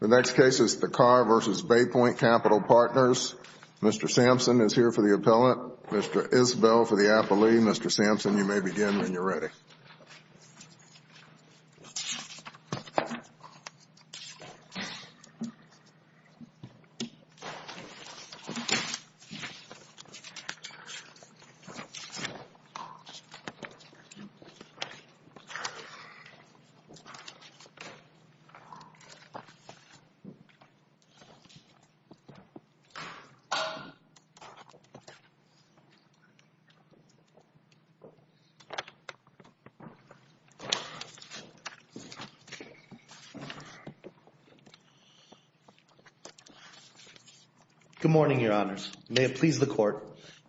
The next case is Thakkar v. Bay Point Capital Partners. Mr. Sampson is here for the appellate, Mr. Isbell for the appellee, Mr. Sampson you may Good morning, your honors. May it please the court,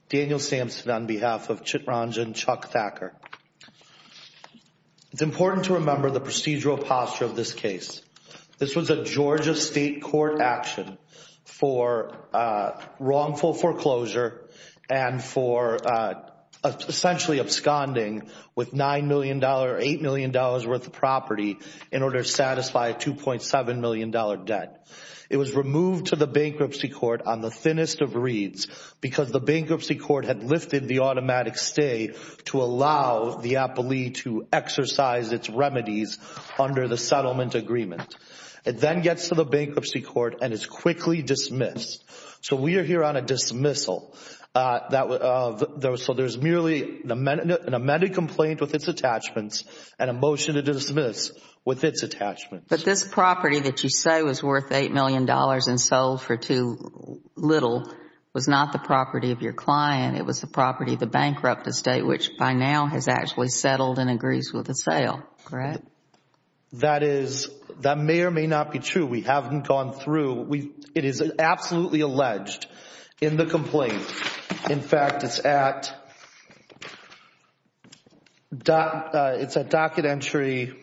Daniel Sampson on behalf of Chittranjan Chuck Thakkar. It's important to remember the procedural posture of this case. This was a Georgia State Court action for wrongful foreclosure and for essentially absconding with $9 million, $8 million worth of property in order to satisfy a $2.7 million debt. It was removed to the bankruptcy court on the thinnest of reeds because the bankruptcy court had lifted the automatic stay to allow the appellee to exercise its remedies under the settlement agreement. It then gets to the bankruptcy court and is quickly dismissed. So we are here on a dismissal. So there's merely an amended complaint with its attachments and a motion to dismiss with its attachments. But this property that you say was worth $8 million and sold for too little was not the property of your client. It was the property of the bankrupt estate, which by now has actually settled and agrees with the sale, correct? That is, that may or may not be true. We haven't gone through. It is absolutely alleged in the complaint. In fact, it's at docket entry.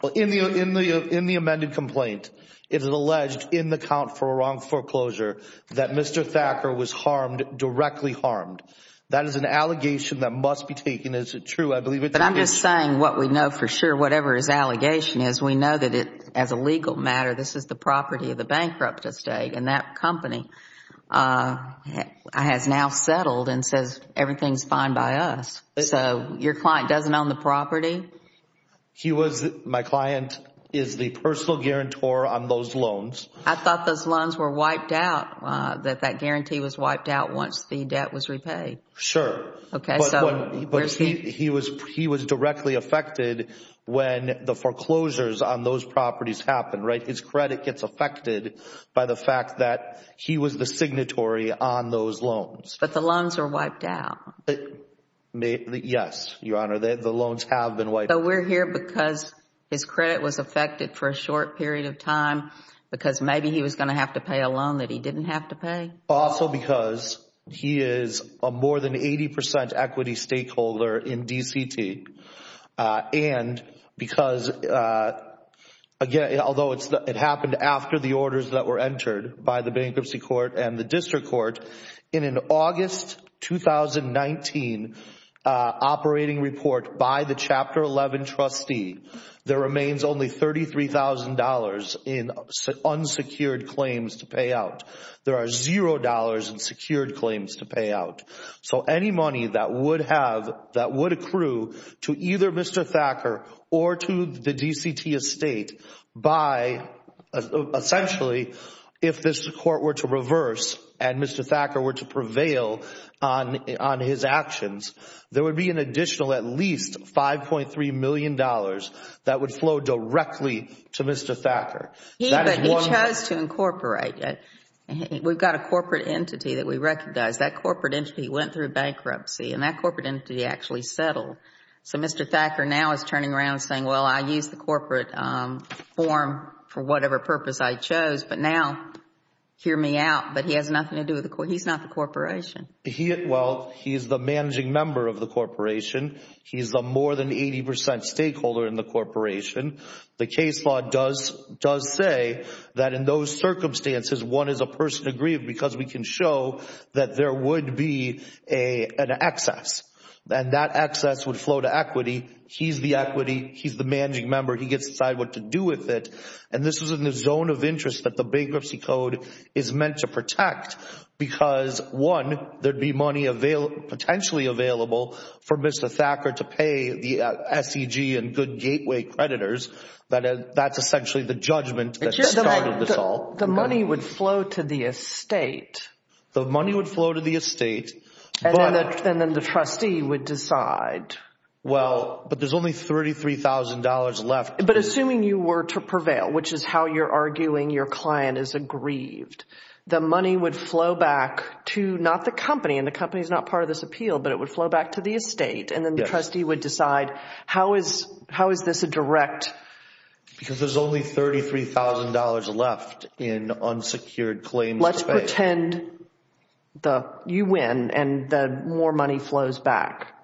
Well, in the amended complaint, it is alleged in the count for a wrongful foreclosure that Mr. Thacker was harmed, directly harmed. That is an allegation that must be taken as true. I believe it's true. But I'm just saying what we know for sure, whatever his allegation is, we know that as a legal matter, this is the property of the bankrupt estate. And that company has now settled and says everything's fine by us. So your client doesn't own the property? He was, my client is the personal guarantor on those loans. I thought those loans were wiped out, that that guarantee was wiped out once the debt was repaid. Sure. But he was directly affected when the foreclosures on those properties happened, right? His credit gets affected by the fact that he was the signatory on those loans. But the loans are wiped out. Yes, Your Honor, the loans have been wiped out. But we're here because his credit was affected for a short period of time, because maybe he was going to have to pay a loan that he didn't have to pay? Also because he is a more than 80% equity stakeholder in DCT. And because, again, although it happened after the orders that were entered by the Bankruptcy Court and the District Court, in an August 2019 operating report by the Chapter 11 trustee, there remains only $33,000 in unsecured claims to pay out. There are $0 in secured claims to pay out. So any money that would have, that would accrue to either Mr. Thacker or to the DCT estate by, essentially, if this Court were to reverse and Mr. Thacker were to prevail on his actions, there would be an additional at least $5.3 million that would flow directly to Mr. Thacker. He chose to incorporate. We've got a corporate entity that we recognize. That corporate entity went through bankruptcy and that corporate entity actually settled. So Mr. Thacker now is turning around saying, well, I used the corporate form for whatever purpose I chose, but now hear me out. But he has nothing to do with the, he's not the corporation. He, well, he's the managing member of the corporation. He's the more than 80% stakeholder in the corporation. The case law does say that in those circumstances, one is a person aggrieved because we can show that there would be an excess and that excess would flow to equity. He's the equity. He's the managing member. He gets to decide what to do with it. And this is in the zone of interest that the Bankruptcy Code is meant to protect because one, there'd be money available, potentially available for Mr. Thacker to pay the SEG and good gateway creditors. That's essentially the judgment that started this all. The money would flow to the estate. The money would flow to the estate. And then the trustee would decide. Well, but there's only $33,000 left. But assuming you were to prevail, which is how you're arguing your client is aggrieved, the money would flow back to not the company, and the company is not part of this appeal, but it would flow back to the estate. And then the trustee would decide, how is this a direct? Because there's only $33,000 left in unsecured claims to pay. Let's pretend you win and the more money flows back.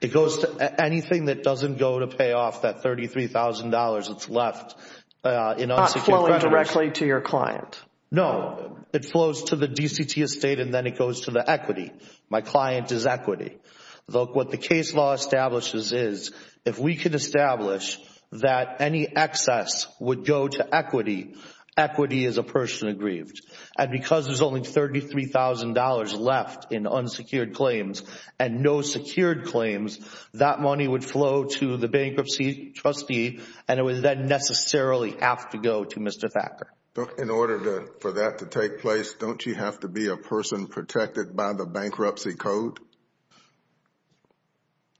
It goes to anything that doesn't go to pay off that $33,000 that's left in unsecured creditors. Not flowing directly to your client. No, it flows to the DCT estate and then it goes to the equity. My client is equity. Look, what the case law establishes is, if we could establish that any excess would go to equity, equity is a person aggrieved. And because there's only $33,000 left in unsecured claims and no secured claims, that money would flow to the bankruptcy trustee and it would then necessarily have to go to Mr. Thacker. In order for that to take place, don't you have to be a person protected by the bankruptcy code?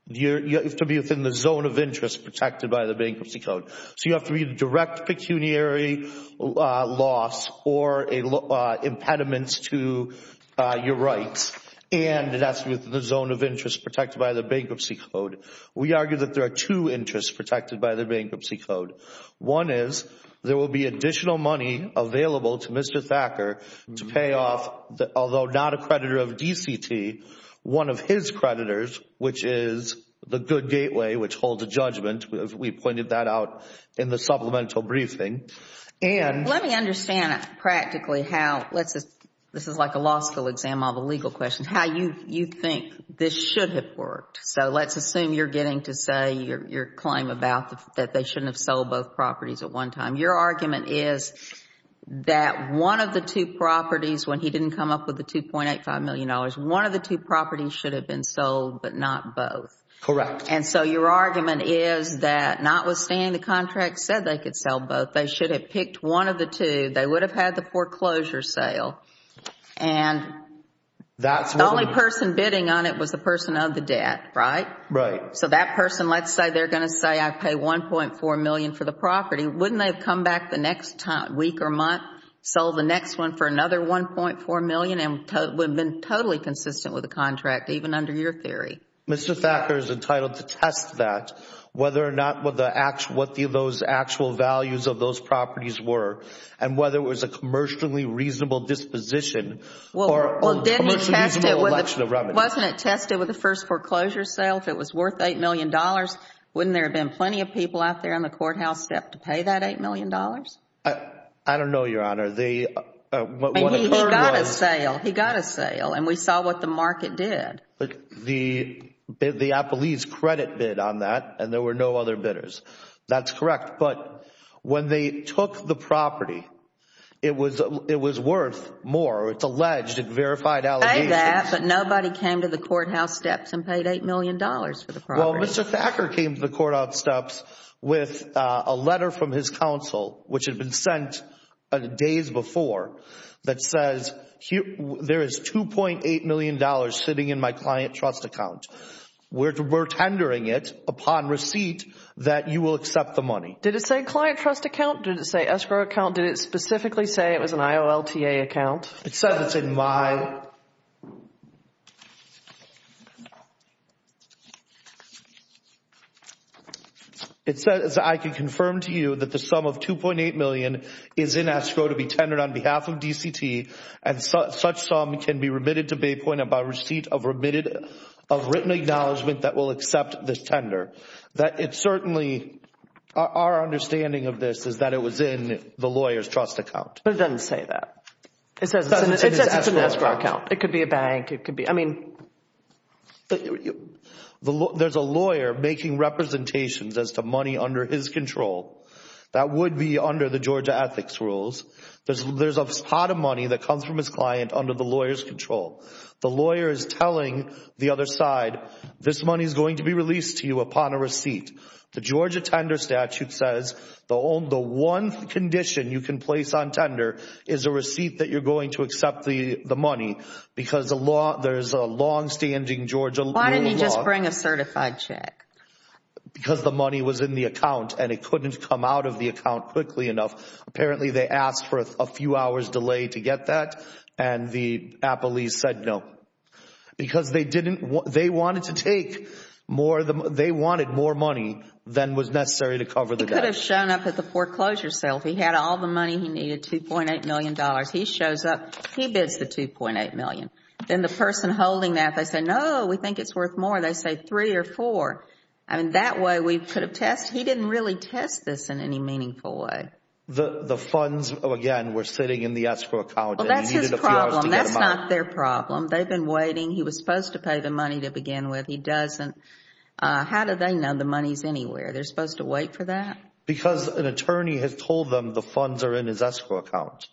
You have to be within the zone of interest protected by the bankruptcy code. So you have to be a direct pecuniary loss or impediments to your rights, and that's within the zone of interest protected by the bankruptcy code. We argue that there are two interests protected by the bankruptcy code. One is, there will be additional money available to Mr. Thacker to pay off, although not a creditor of DCT, one of his creditors, which is the Good Gateway, which holds a judgment. We pointed that out in the supplemental briefing. Let me understand practically how, this is like a law school exam of a legal question, how you think this should have worked. So let's assume you're getting to say your claim about that they shouldn't have sold both properties at one time. Your argument is that one of the two properties, when he didn't come up with the $2.85 million, one of the two properties should have been sold, but not both. Correct. So your argument is that notwithstanding the contract said they could sell both, they should have picked one of the two, they would have had the foreclosure sale, and the only person of the debt. Right? Right. So that person, let's say they're going to say I pay $1.4 million for the property, wouldn't they have come back the next week or month, sold the next one for another $1.4 million, and would have been totally consistent with the contract, even under your theory? Mr. Thacker is entitled to test that, whether or not what those actual values of those properties were, and whether it was a commercially reasonable disposition or commercially reasonable election of revenue. Wasn't it tested with the first foreclosure sale, if it was worth $8 million, wouldn't there have been plenty of people out there on the courthouse step to pay that $8 million? I don't know, Your Honor. He got a sale. He got a sale. And we saw what the market did. The Applebee's credit bid on that, and there were no other bidders. That's correct. But when they took the property, it was worth more. It's alleged. It's verified allegations. I believe that. But nobody came to the courthouse steps and paid $8 million for the property. Well, Mr. Thacker came to the courthouse steps with a letter from his counsel, which had been sent days before, that says, there is $2.8 million sitting in my client trust account. We're tendering it upon receipt that you will accept the money. Did it say client trust account? Did it say escrow account? Did it specifically say it was an IOLTA account? It said it's in my... It says, I can confirm to you that the sum of $2.8 million is in escrow to be tendered on behalf of DCT, and such sum can be remitted to Baypoint upon receipt of written acknowledgement that will accept this tender. That it certainly... Our understanding of this is that it was in the lawyer's trust account. But it doesn't say that. It says it's an escrow account. It could be a bank. It could be... I mean... There's a lawyer making representations as to money under his control. That would be under the Georgia ethics rules. There's a pot of money that comes from his client under the lawyer's control. The lawyer is telling the other side, this money is going to be released to you upon a receipt. The Georgia tender statute says the only... the one condition you can place on tender is a receipt that you're going to accept the money because there's a longstanding Georgia... Why didn't he just bring a certified check? Because the money was in the account, and it couldn't come out of the account quickly enough. Apparently, they asked for a few hours delay to get that, and the appellees said no. Because they didn't... they wanted to take more... they wanted more money than was necessary to cover the debt. He could have shown up at the foreclosure sale. He had all the money he needed, $2.8 million. He shows up. He bids the $2.8 million. Then the person holding that, they say, no, we think it's worth more. They say three or four. I mean, that way, we could have test... he didn't really test this in any meaningful way. The funds, again, were sitting in the escrow account, and he needed a few hours to get them out. They've been waiting. He was supposed to pay the money to begin with. He doesn't. How do they know the money's anywhere? They're supposed to wait for that? Because an attorney has told them the funds are in his escrow account,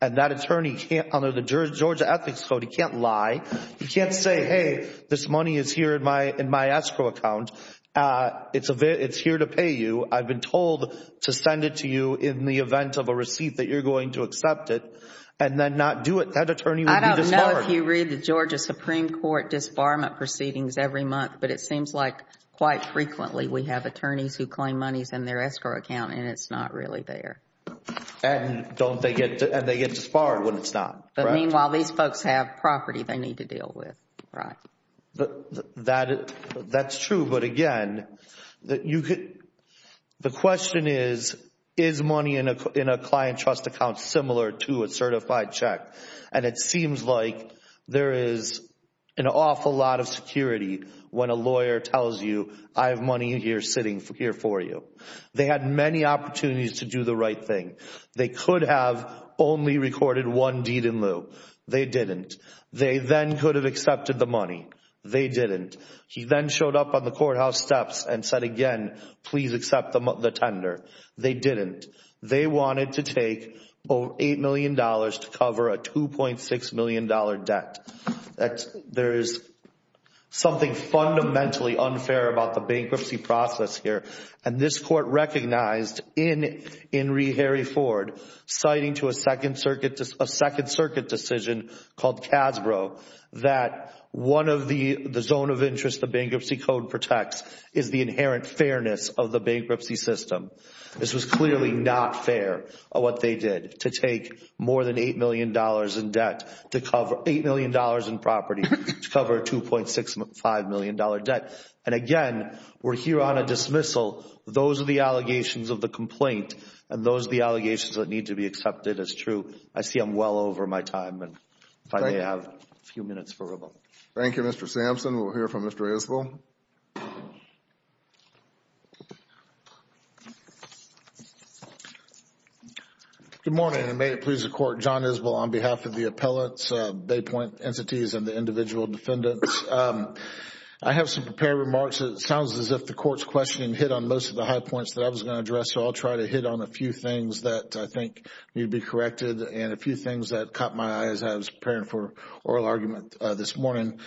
and that attorney can't... under the Georgia Ethics Code, he can't lie. He can't say, hey, this money is here in my escrow account. It's here to pay you. I've been told to send it to you in the event of a receipt that you're going to accept it, and then not do it. That attorney would be disbarred. I don't know if you read the Georgia Supreme Court disbarment proceedings every month, but it seems like quite frequently, we have attorneys who claim money's in their escrow account and it's not really there. And they get disbarred when it's not, right? Meanwhile, these folks have property they need to deal with, right? That's true, but again, the question is, is money in a client trust account similar to a certified check? And it seems like there is an awful lot of security when a lawyer tells you, I have money here sitting here for you. They had many opportunities to do the right thing. They could have only recorded one deed in lieu. They didn't. They then could have accepted the money. They didn't. He then showed up on the courthouse steps and said again, please accept the tender. They didn't. They wanted to take $8 million to cover a $2.6 million debt. There is something fundamentally unfair about the bankruptcy process here. And this court recognized in Henry Harry Ford, citing to a Second Circuit decision called Casbro, that one of the zone of interest the bankruptcy code protects is the inherent fairness of the bankruptcy system. This was clearly not fair what they did to take more than $8 million in debt to cover $8 million in property to cover a $2.65 million debt. And again, we're here on a dismissal. Those are the allegations of the complaint and those are the allegations that need to be accepted as true. I see I'm well over my time and if I may have a few minutes for rebuttal. Thank you, Mr. Sampson. We'll hear from Mr. Isbell. Good morning and may it please the Court. John Isbell on behalf of the appellants, bay point entities, and the individual defendants. I have some prepared remarks. It sounds as if the court's questioning hit on most of the high points that I was going to address. So I'll try to hit on a few things that I think need to be corrected and a few things that caught my eye as I was preparing for oral argument this morning.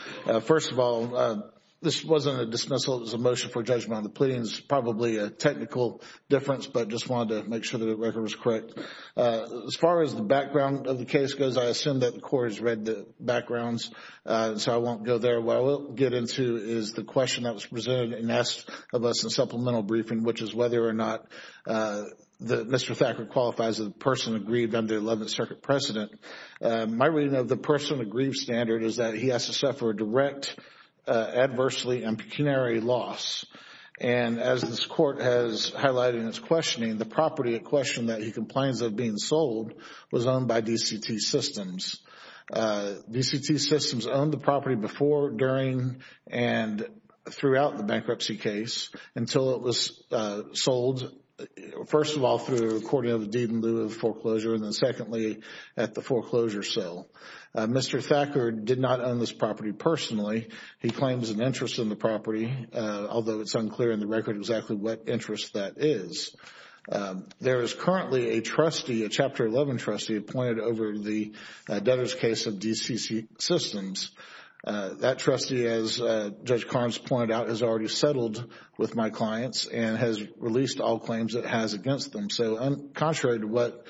First of all, this wasn't a dismissal, it was a motion for judgment on the pleadings. It's probably a technical difference, but I just wanted to make sure that the record was correct. As far as the background of the case goes, I assume that the Court has read the backgrounds, so I won't go there. What I will get into is the question that was presented and asked of us in supplemental briefing, which is whether or not Mr. Thacker qualifies as a person of grief under the Eleventh Circuit precedent. My reading of the person of grief standard is that he has to suffer a direct, adversely and pecuniary loss. And as this Court has highlighted in its questioning, the property at question that he complains of being sold was owned by DCT Systems. DCT Systems owned the property before, during and throughout the bankruptcy case until it was sold, first of all, through the recording of the deed in lieu of foreclosure, and secondly, at the foreclosure sale. Mr. Thacker did not own this property personally. He claims an interest in the property, although it's unclear in the record exactly what interest that is. There is currently a trustee, a Chapter 11 trustee, appointed over the debtor's case of DCT Systems. That trustee, as Judge Carnes pointed out, has already settled with my clients and has released all claims it has against them. So, contrary to what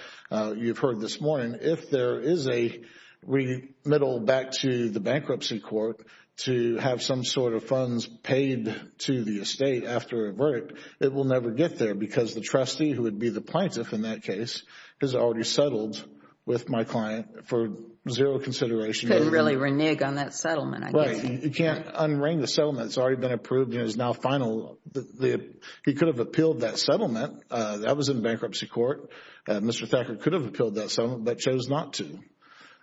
you've heard this morning, if there is a remittal back to the bankruptcy court to have some sort of funds paid to the estate after a verdict, it will never get there because the trustee, who would be the plaintiff in that case, has already settled with my client for zero consideration. He couldn't really renege on that settlement, I guess. Right. He can't un-wring the settlement. It's already been approved and is now final. He could have appealed that settlement. That was in bankruptcy court. Mr. Thacker could have appealed that settlement but chose not to.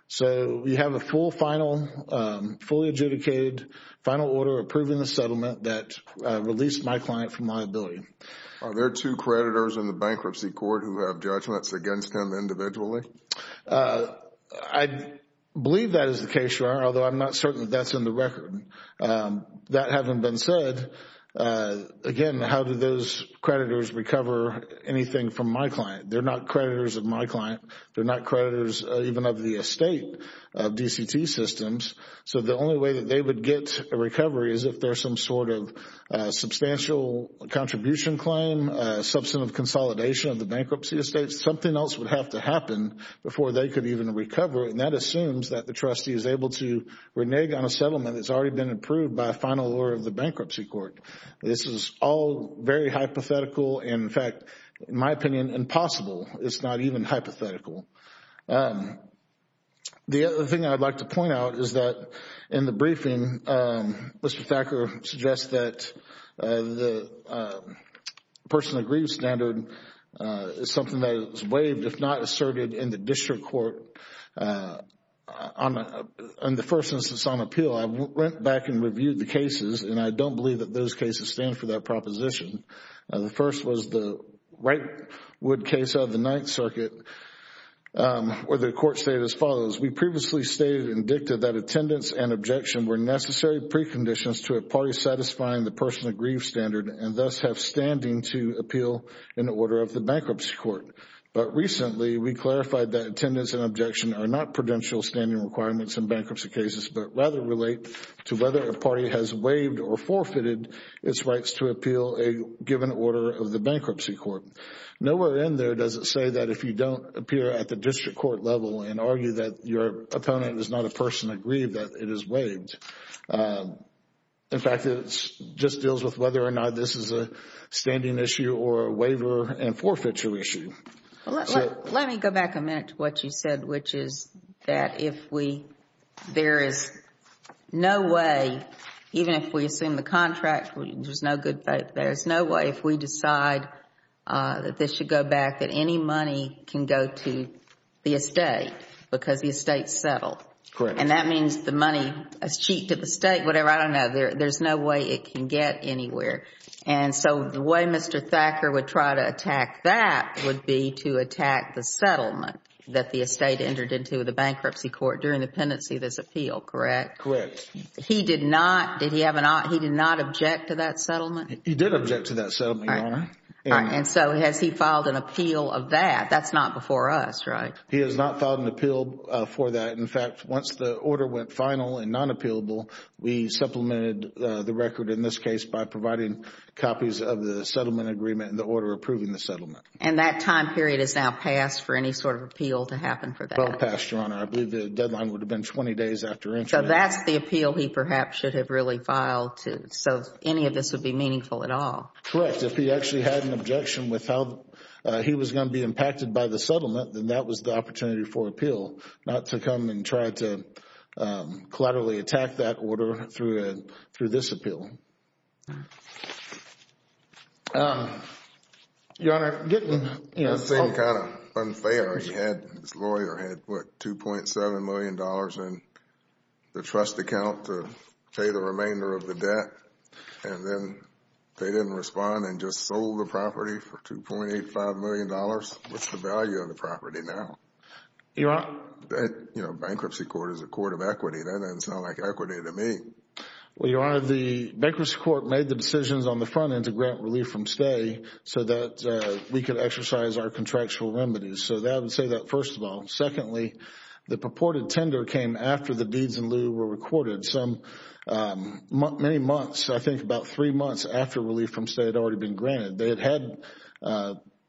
So, we have a full, final, fully adjudicated, final order approving the settlement that released my client from liability. Are there two creditors in the bankruptcy court who have judgments against him individually? I believe that is the case, Your Honor, although I'm not certain that that's in the record. That having been said, again, how do those creditors recover anything from my client? They're not creditors of my client. They're not creditors even of the estate of DCT Systems. So the only way that they would get a recovery is if there's some sort of substantial contribution claim, substantive consolidation of the bankruptcy estate. Something else would have to happen before they could even recover and that assumes that the trustee is able to renege on a settlement that has already been approved by a final order of the bankruptcy court. This is all very hypothetical. In fact, in my opinion, impossible. It's not even hypothetical. The other thing I'd like to point out is that in the briefing, Mr. Thacker suggests that the personal grief standard is something that is waived if not asserted in the district court on the first instance on appeal. I went back and reviewed the cases and I don't believe that those cases stand for that proposition. The first was the Wrightwood case out of the Ninth Circuit where the court stated as follows, we previously stated and dictated that attendance and objection were necessary preconditions to a party satisfying the personal grief standard and thus have standing to appeal in order of the bankruptcy court. But recently, we clarified that attendance and objection are not prudential standing requirements in bankruptcy cases but rather relate to whether a party has waived or forfeited its rights to appeal a given order of the bankruptcy court. Nowhere in there does it say that if you don't appear at the district court level and argue that your opponent is not a personal grief that it is waived. In fact, it just deals with whether or not this is a standing issue or a waiver and forfeiture issue. Let me go back a minute to what you said which is that if there is no way, even if we assume the contract, there is no way if we decide that this should go back that any money can go to the estate because the estate is settled. And that means the money is cheap to the state, whatever, I don't know, there is no way it can get anywhere. And so the way Mr. Thacker would try to attack that would be to attack the settlement that the estate entered into the bankruptcy court during the pendency of this appeal, correct? Correct. He did not, did he have an, he did not object to that settlement? He did object to that settlement, Your Honor. And so has he filed an appeal of that? That's not before us, right? He has not filed an appeal for that. In fact, once the order went final and non-appealable, we supplemented the record in this case by providing copies of the settlement agreement and the order approving the settlement. And that time period is now passed for any sort of appeal to happen for that? Well passed, Your Honor. I believe the deadline would have been 20 days after entry. So that's the appeal he perhaps should have really filed to, so any of this would be meaningful at all? Correct. If he actually had an objection with how he was going to be impacted by the settlement, then that was the opportunity for appeal, not to come and try to collaterally attack that order through this appeal. Your Honor, getting, you know, it's kind of unfair, he had, his lawyer had, what, $2.7 million in the trust account to pay the remainder of the debt, and then they didn't respond and just sold the property for $2.85 million. What's the value of the property now? Your Honor. That, you know, bankruptcy court is a court of equity, that doesn't sound like equity to me. Well, Your Honor, the bankruptcy court made the decisions on the front end to grant relief from stay so that we could exercise our contractual remedies. So I would say that first of all. Secondly, the purported tender came after the deeds in lieu were recorded, so many months, I think about three months after relief from stay had already been granted. They had had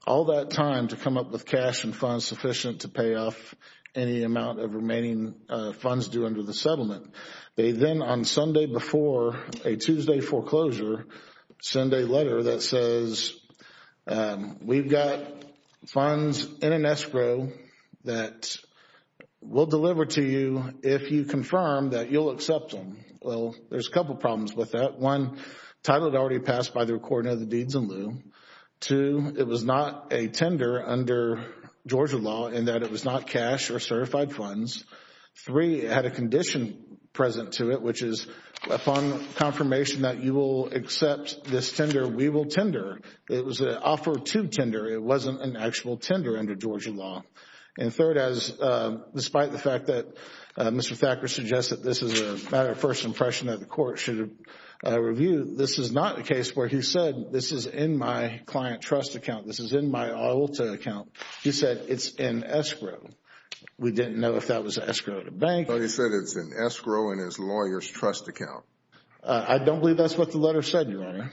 all that time to come up with cash and funds sufficient to pay off any amount of remaining funds due under the settlement. They then, on Sunday before a Tuesday foreclosure, send a letter that says, we've got funds in escrow that we'll deliver to you if you confirm that you'll accept them. Well, there's a couple problems with that. One, title had already passed by the recording of the deeds in lieu. Two, it was not a tender under Georgia law in that it was not cash or certified funds. Three, it had a condition present to it, which is upon confirmation that you will accept this tender, we will tender. It was an offer to tender. It wasn't an actual tender under Georgia law. And third, despite the fact that Mr. Thacker suggests that this is a matter of first impression that the court should review, this is not a case where he said, this is in my client trust account. This is in my Aulta account. He said it's in escrow. We didn't know if that was escrow at a bank. No, he said it's in escrow in his lawyer's trust account. I don't believe that's what the letter said, Your Honor.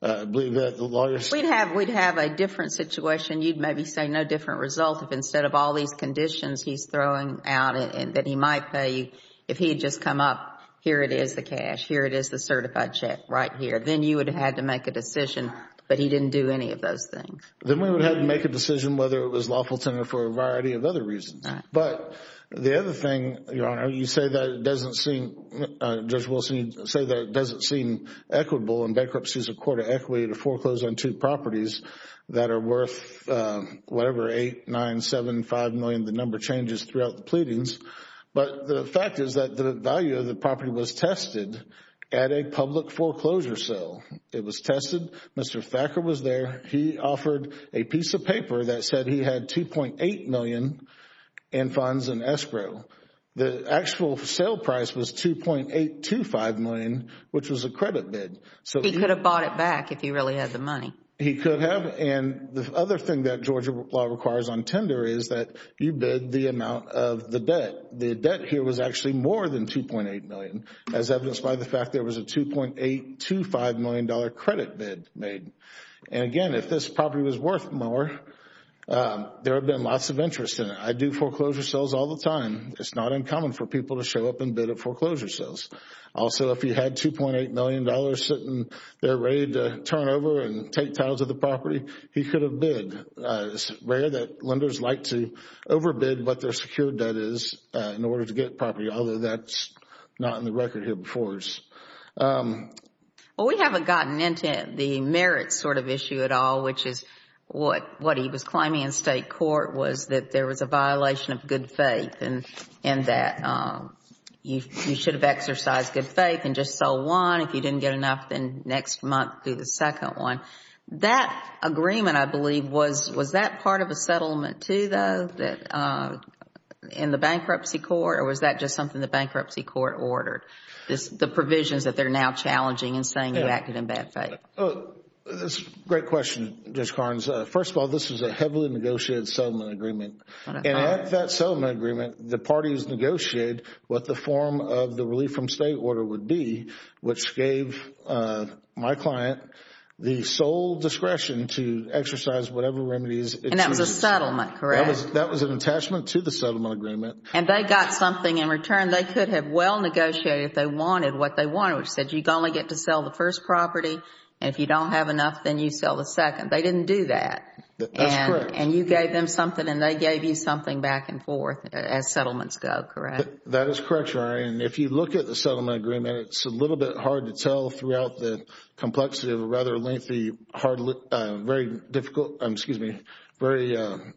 I believe that the lawyer said... We'd have a different situation. You'd maybe say no different result if instead of all these conditions he's throwing out and that he might pay you, if he had just come up, here it is, the cash. Here it is, the certified check right here. Then you would have had to make a decision, but he didn't do any of those things. Then we would have had to make a decision whether it was lawful tender for a variety of other reasons. But the other thing, Your Honor, you say that it doesn't seem, Judge Wilson, you say that it doesn't seem equitable and bankruptcy is a court of equity to foreclose on two properties that are worth whatever, $8, $9, $7, $5 million, the number changes throughout the pleadings. But the fact is that the value of the property was tested at a public foreclosure sale. It was tested. Mr. Thacker was there. He offered a piece of paper that said he had $2.8 million in funds in escrow. The actual sale price was $2.825 million, which was a credit bid. He could have bought it back if he really had the money. He could have. And the other thing that Georgia law requires on tender is that you bid the amount of the debt. The debt here was actually more than $2.8 million, as evidenced by the fact there was a $2.825 million credit bid made. Again, if this property was worth more, there would have been lots of interest in it. I do foreclosure sales all the time. It's not uncommon for people to show up and bid at foreclosure sales. Also, if he had $2.8 million sitting there ready to turn over and take titles of the property, he could have bid. It's rare that lenders like to overbid what their secured debt is in order to get property, although that's not in the record here before us. Well, we haven't gotten into the merits sort of issue at all, which is what he was climbing in state court was that there was a violation of good faith and that you should have exercised good faith and just sold one. If you didn't get enough, then next month do the second one. That agreement, I believe, was that part of a settlement too, though, in the bankruptcy court or was that just something the bankruptcy court ordered, the provisions that they're now challenging and saying you acted in bad faith? That's a great question, Judge Carnes. First of all, this was a heavily negotiated settlement agreement. At that settlement agreement, the parties negotiated what the form of the relief from state order would be, which gave my client the sole discretion to exercise whatever remedies it chooses. That was a settlement, correct? That was an attachment to the settlement agreement. And they got something in return. They could have well negotiated if they wanted what they wanted, which said you only get to sell the first property. If you don't have enough, then you sell the second. They didn't do that. That's correct. And you gave them something and they gave you something back and forth as settlements go, correct? That is correct, Your Honor. And if you look at the settlement agreement, it's a little bit hard to tell throughout the complexity of a rather lengthy, very difficult, excuse me, very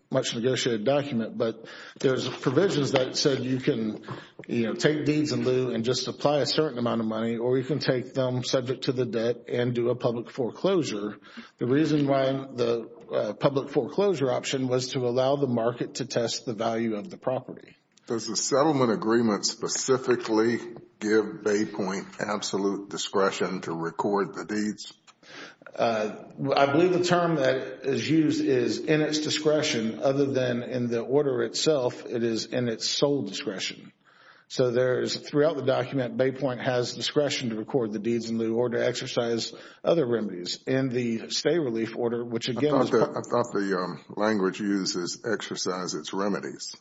much negotiated document. But there's provisions that said you can take deeds in lieu and just apply a certain amount of money or you can take them subject to the debt and do a public foreclosure. The reason why the public foreclosure option was to allow the market to test the value of the property. Does the settlement agreement specifically give Baypoint absolute discretion to record the deeds? I believe the term that is used is in its discretion other than in the order itself, it is in its sole discretion. So there is throughout the document, Baypoint has discretion to record the deeds in lieu or to exercise other remedies. In the stay relief order, which again is part of the... I thought the language used is exercise its remedies.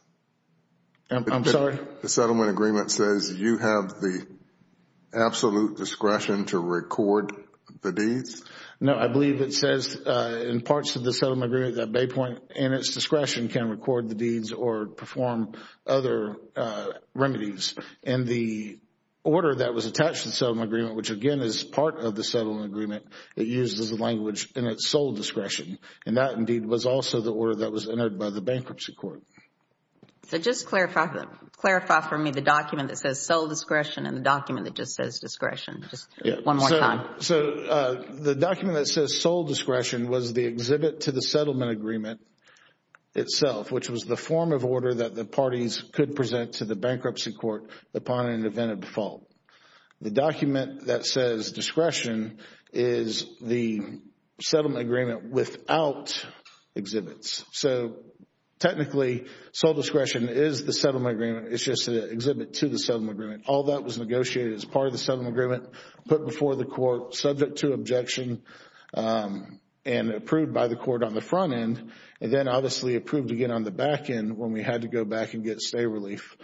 I'm sorry? The settlement agreement says you have the absolute discretion to record the deeds? No, I believe it says in parts of the settlement agreement that Baypoint in its discretion can record the deeds or perform other remedies. In the order that was attached to the settlement agreement, which again is part of the settlement agreement, it uses the language in its sole discretion and that indeed was also the order that was entered by the bankruptcy court. Just clarify for me the document that says sole discretion and the document that just says discretion. Just one more time. The document that says sole discretion was the exhibit to the settlement agreement itself, which was the form of order that the parties could present to the bankruptcy court upon an event of default. The document that says discretion is the settlement agreement without exhibits. So technically, sole discretion is the settlement agreement, it's just an exhibit to the settlement agreement. All that was negotiated as part of the settlement agreement, put before the court, subject to had to go back and get stay relief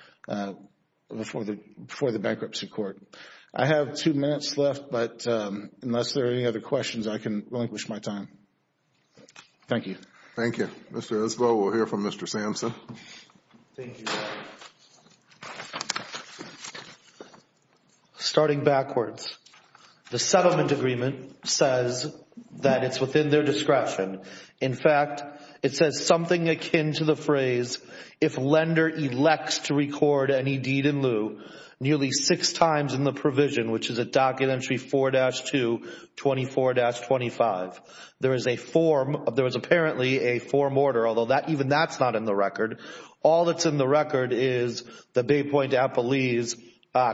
before the bankruptcy court. I have two minutes left, but unless there are any other questions, I can relinquish my time. Thank you. Thank you. Mr. Isbell, we'll hear from Mr. Samson. Starting backwards, the settlement agreement says that it's within their discretion. In fact, it says something akin to the phrase, if lender elects to record any deed in lieu nearly six times in the provision, which is at Documentary 4-2, 24-25. There is apparently a form order, although even that's not in the record. All that's in the record is the Bay Point Appellee's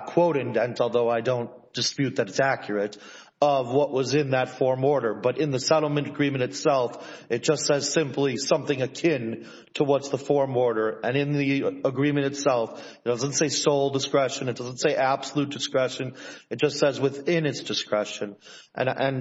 quote indent, although I don't dispute that it's accurate, of what was in that form order. In the settlement agreement itself, it just says simply something akin to what's the form order. In the agreement itself, it doesn't say sole discretion, it doesn't say absolute discretion. It just says within its discretion.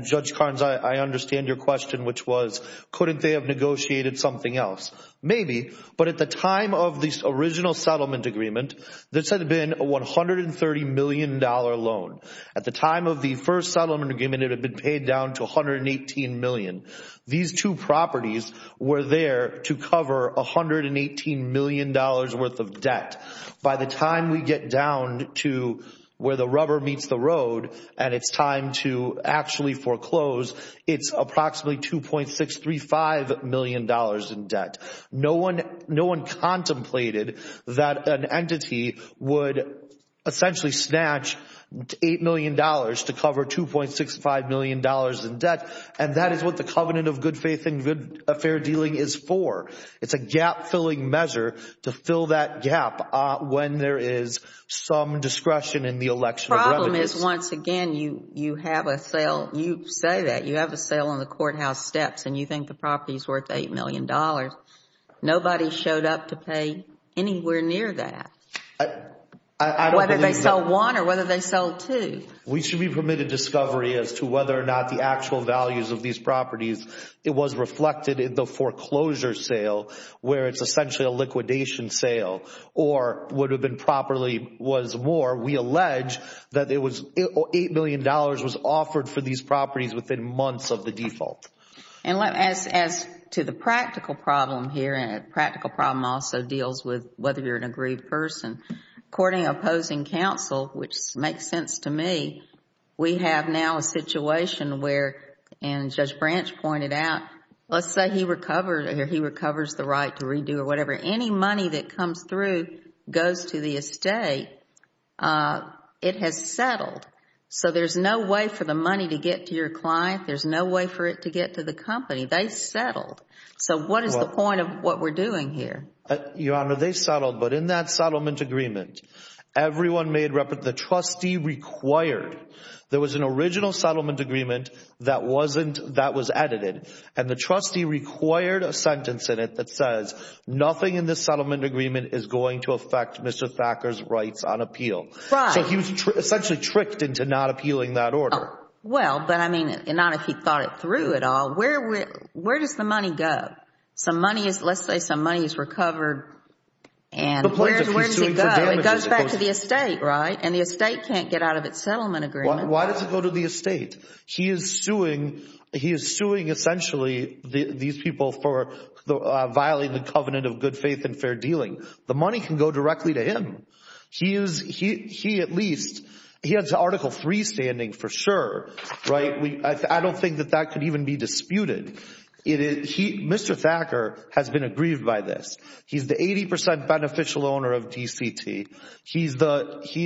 Judge Carnes, I understand your question, which was, couldn't they have negotiated something else? Maybe, but at the time of the original settlement agreement, this had been a $130 million loan. At the time of the first settlement agreement, it had been paid down to $118 million. These two properties were there to cover $118 million worth of debt. By the time we get down to where the rubber meets the road and it's time to actually foreclose, it's approximately $2.635 million in debt. No one contemplated that an entity would essentially snatch $8 million to cover $2.65 million in debt. That is what the covenant of good faith and good affair dealing is for. It's a gap filling measure to fill that gap when there is some discretion in the election of revenues. The problem is, once again, you have a sale, you say that you have a sale on the courthouse steps and you think the property is worth $8 million. Nobody showed up to pay anywhere near that, whether they sell one or whether they sell two. We should be permitted discovery as to whether or not the actual values of these properties, it was reflected in the foreclosure sale where it's essentially a liquidation sale or would have been properly was more. We allege that $8 million was offered for these properties within months of the default. As to the practical problem here, and the practical problem also deals with whether you're an agreed person, according to opposing counsel, which makes sense to me, we have now a situation where, and Judge Branch pointed out, let's say he recovers the right to redo or whatever. Any money that comes through goes to the estate, it has settled, so there's no way for the money to get to your client, there's no way for it to get to the company, they settled. So what is the point of what we're doing here? Your Honor, they settled, but in that settlement agreement, everyone made, the trustee required, there was an original settlement agreement that was edited and the trustee required a nothing in this settlement agreement is going to affect Mr. Thacker's rights on appeal. So he was essentially tricked into not appealing that order. Well, but I mean, not if he thought it through at all. Where does the money go? Some money is, let's say some money is recovered and where does it go? It goes back to the estate, right? And the estate can't get out of its settlement agreement. Why does it go to the estate? He is suing, he is suing essentially these people for violating the covenant of good faith and fair dealing. The money can go directly to him. He is, he at least, he has Article 3 standing for sure, right? I don't think that that could even be disputed. Mr. Thacker has been aggrieved by this. He's the 80 percent beneficial owner of DCT. He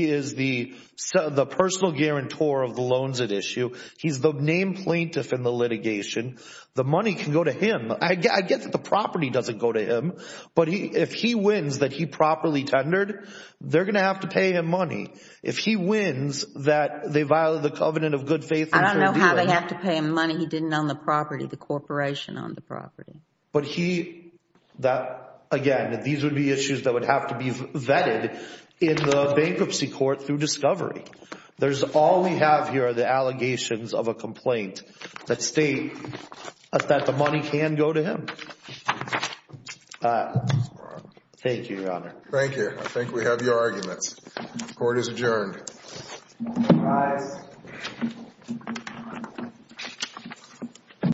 is the personal guarantor of the loans at issue. He's the named plaintiff in the litigation. The money can go to him. I get that the property doesn't go to him, but if he wins that he properly tendered, they're going to have to pay him money. If he wins that they violated the covenant of good faith and fair dealing. I don't know how they have to pay him money. He didn't own the property, the corporation owned the property. But he, that again, these would be issues that would have to be vetted in the bankruptcy court through discovery. There's all we have here are the allegations of a complaint that state that the money can go to him. Thank you, Your Honor. Thank you. I think we have your arguments. Court is adjourned. Aye. Aye. Aye.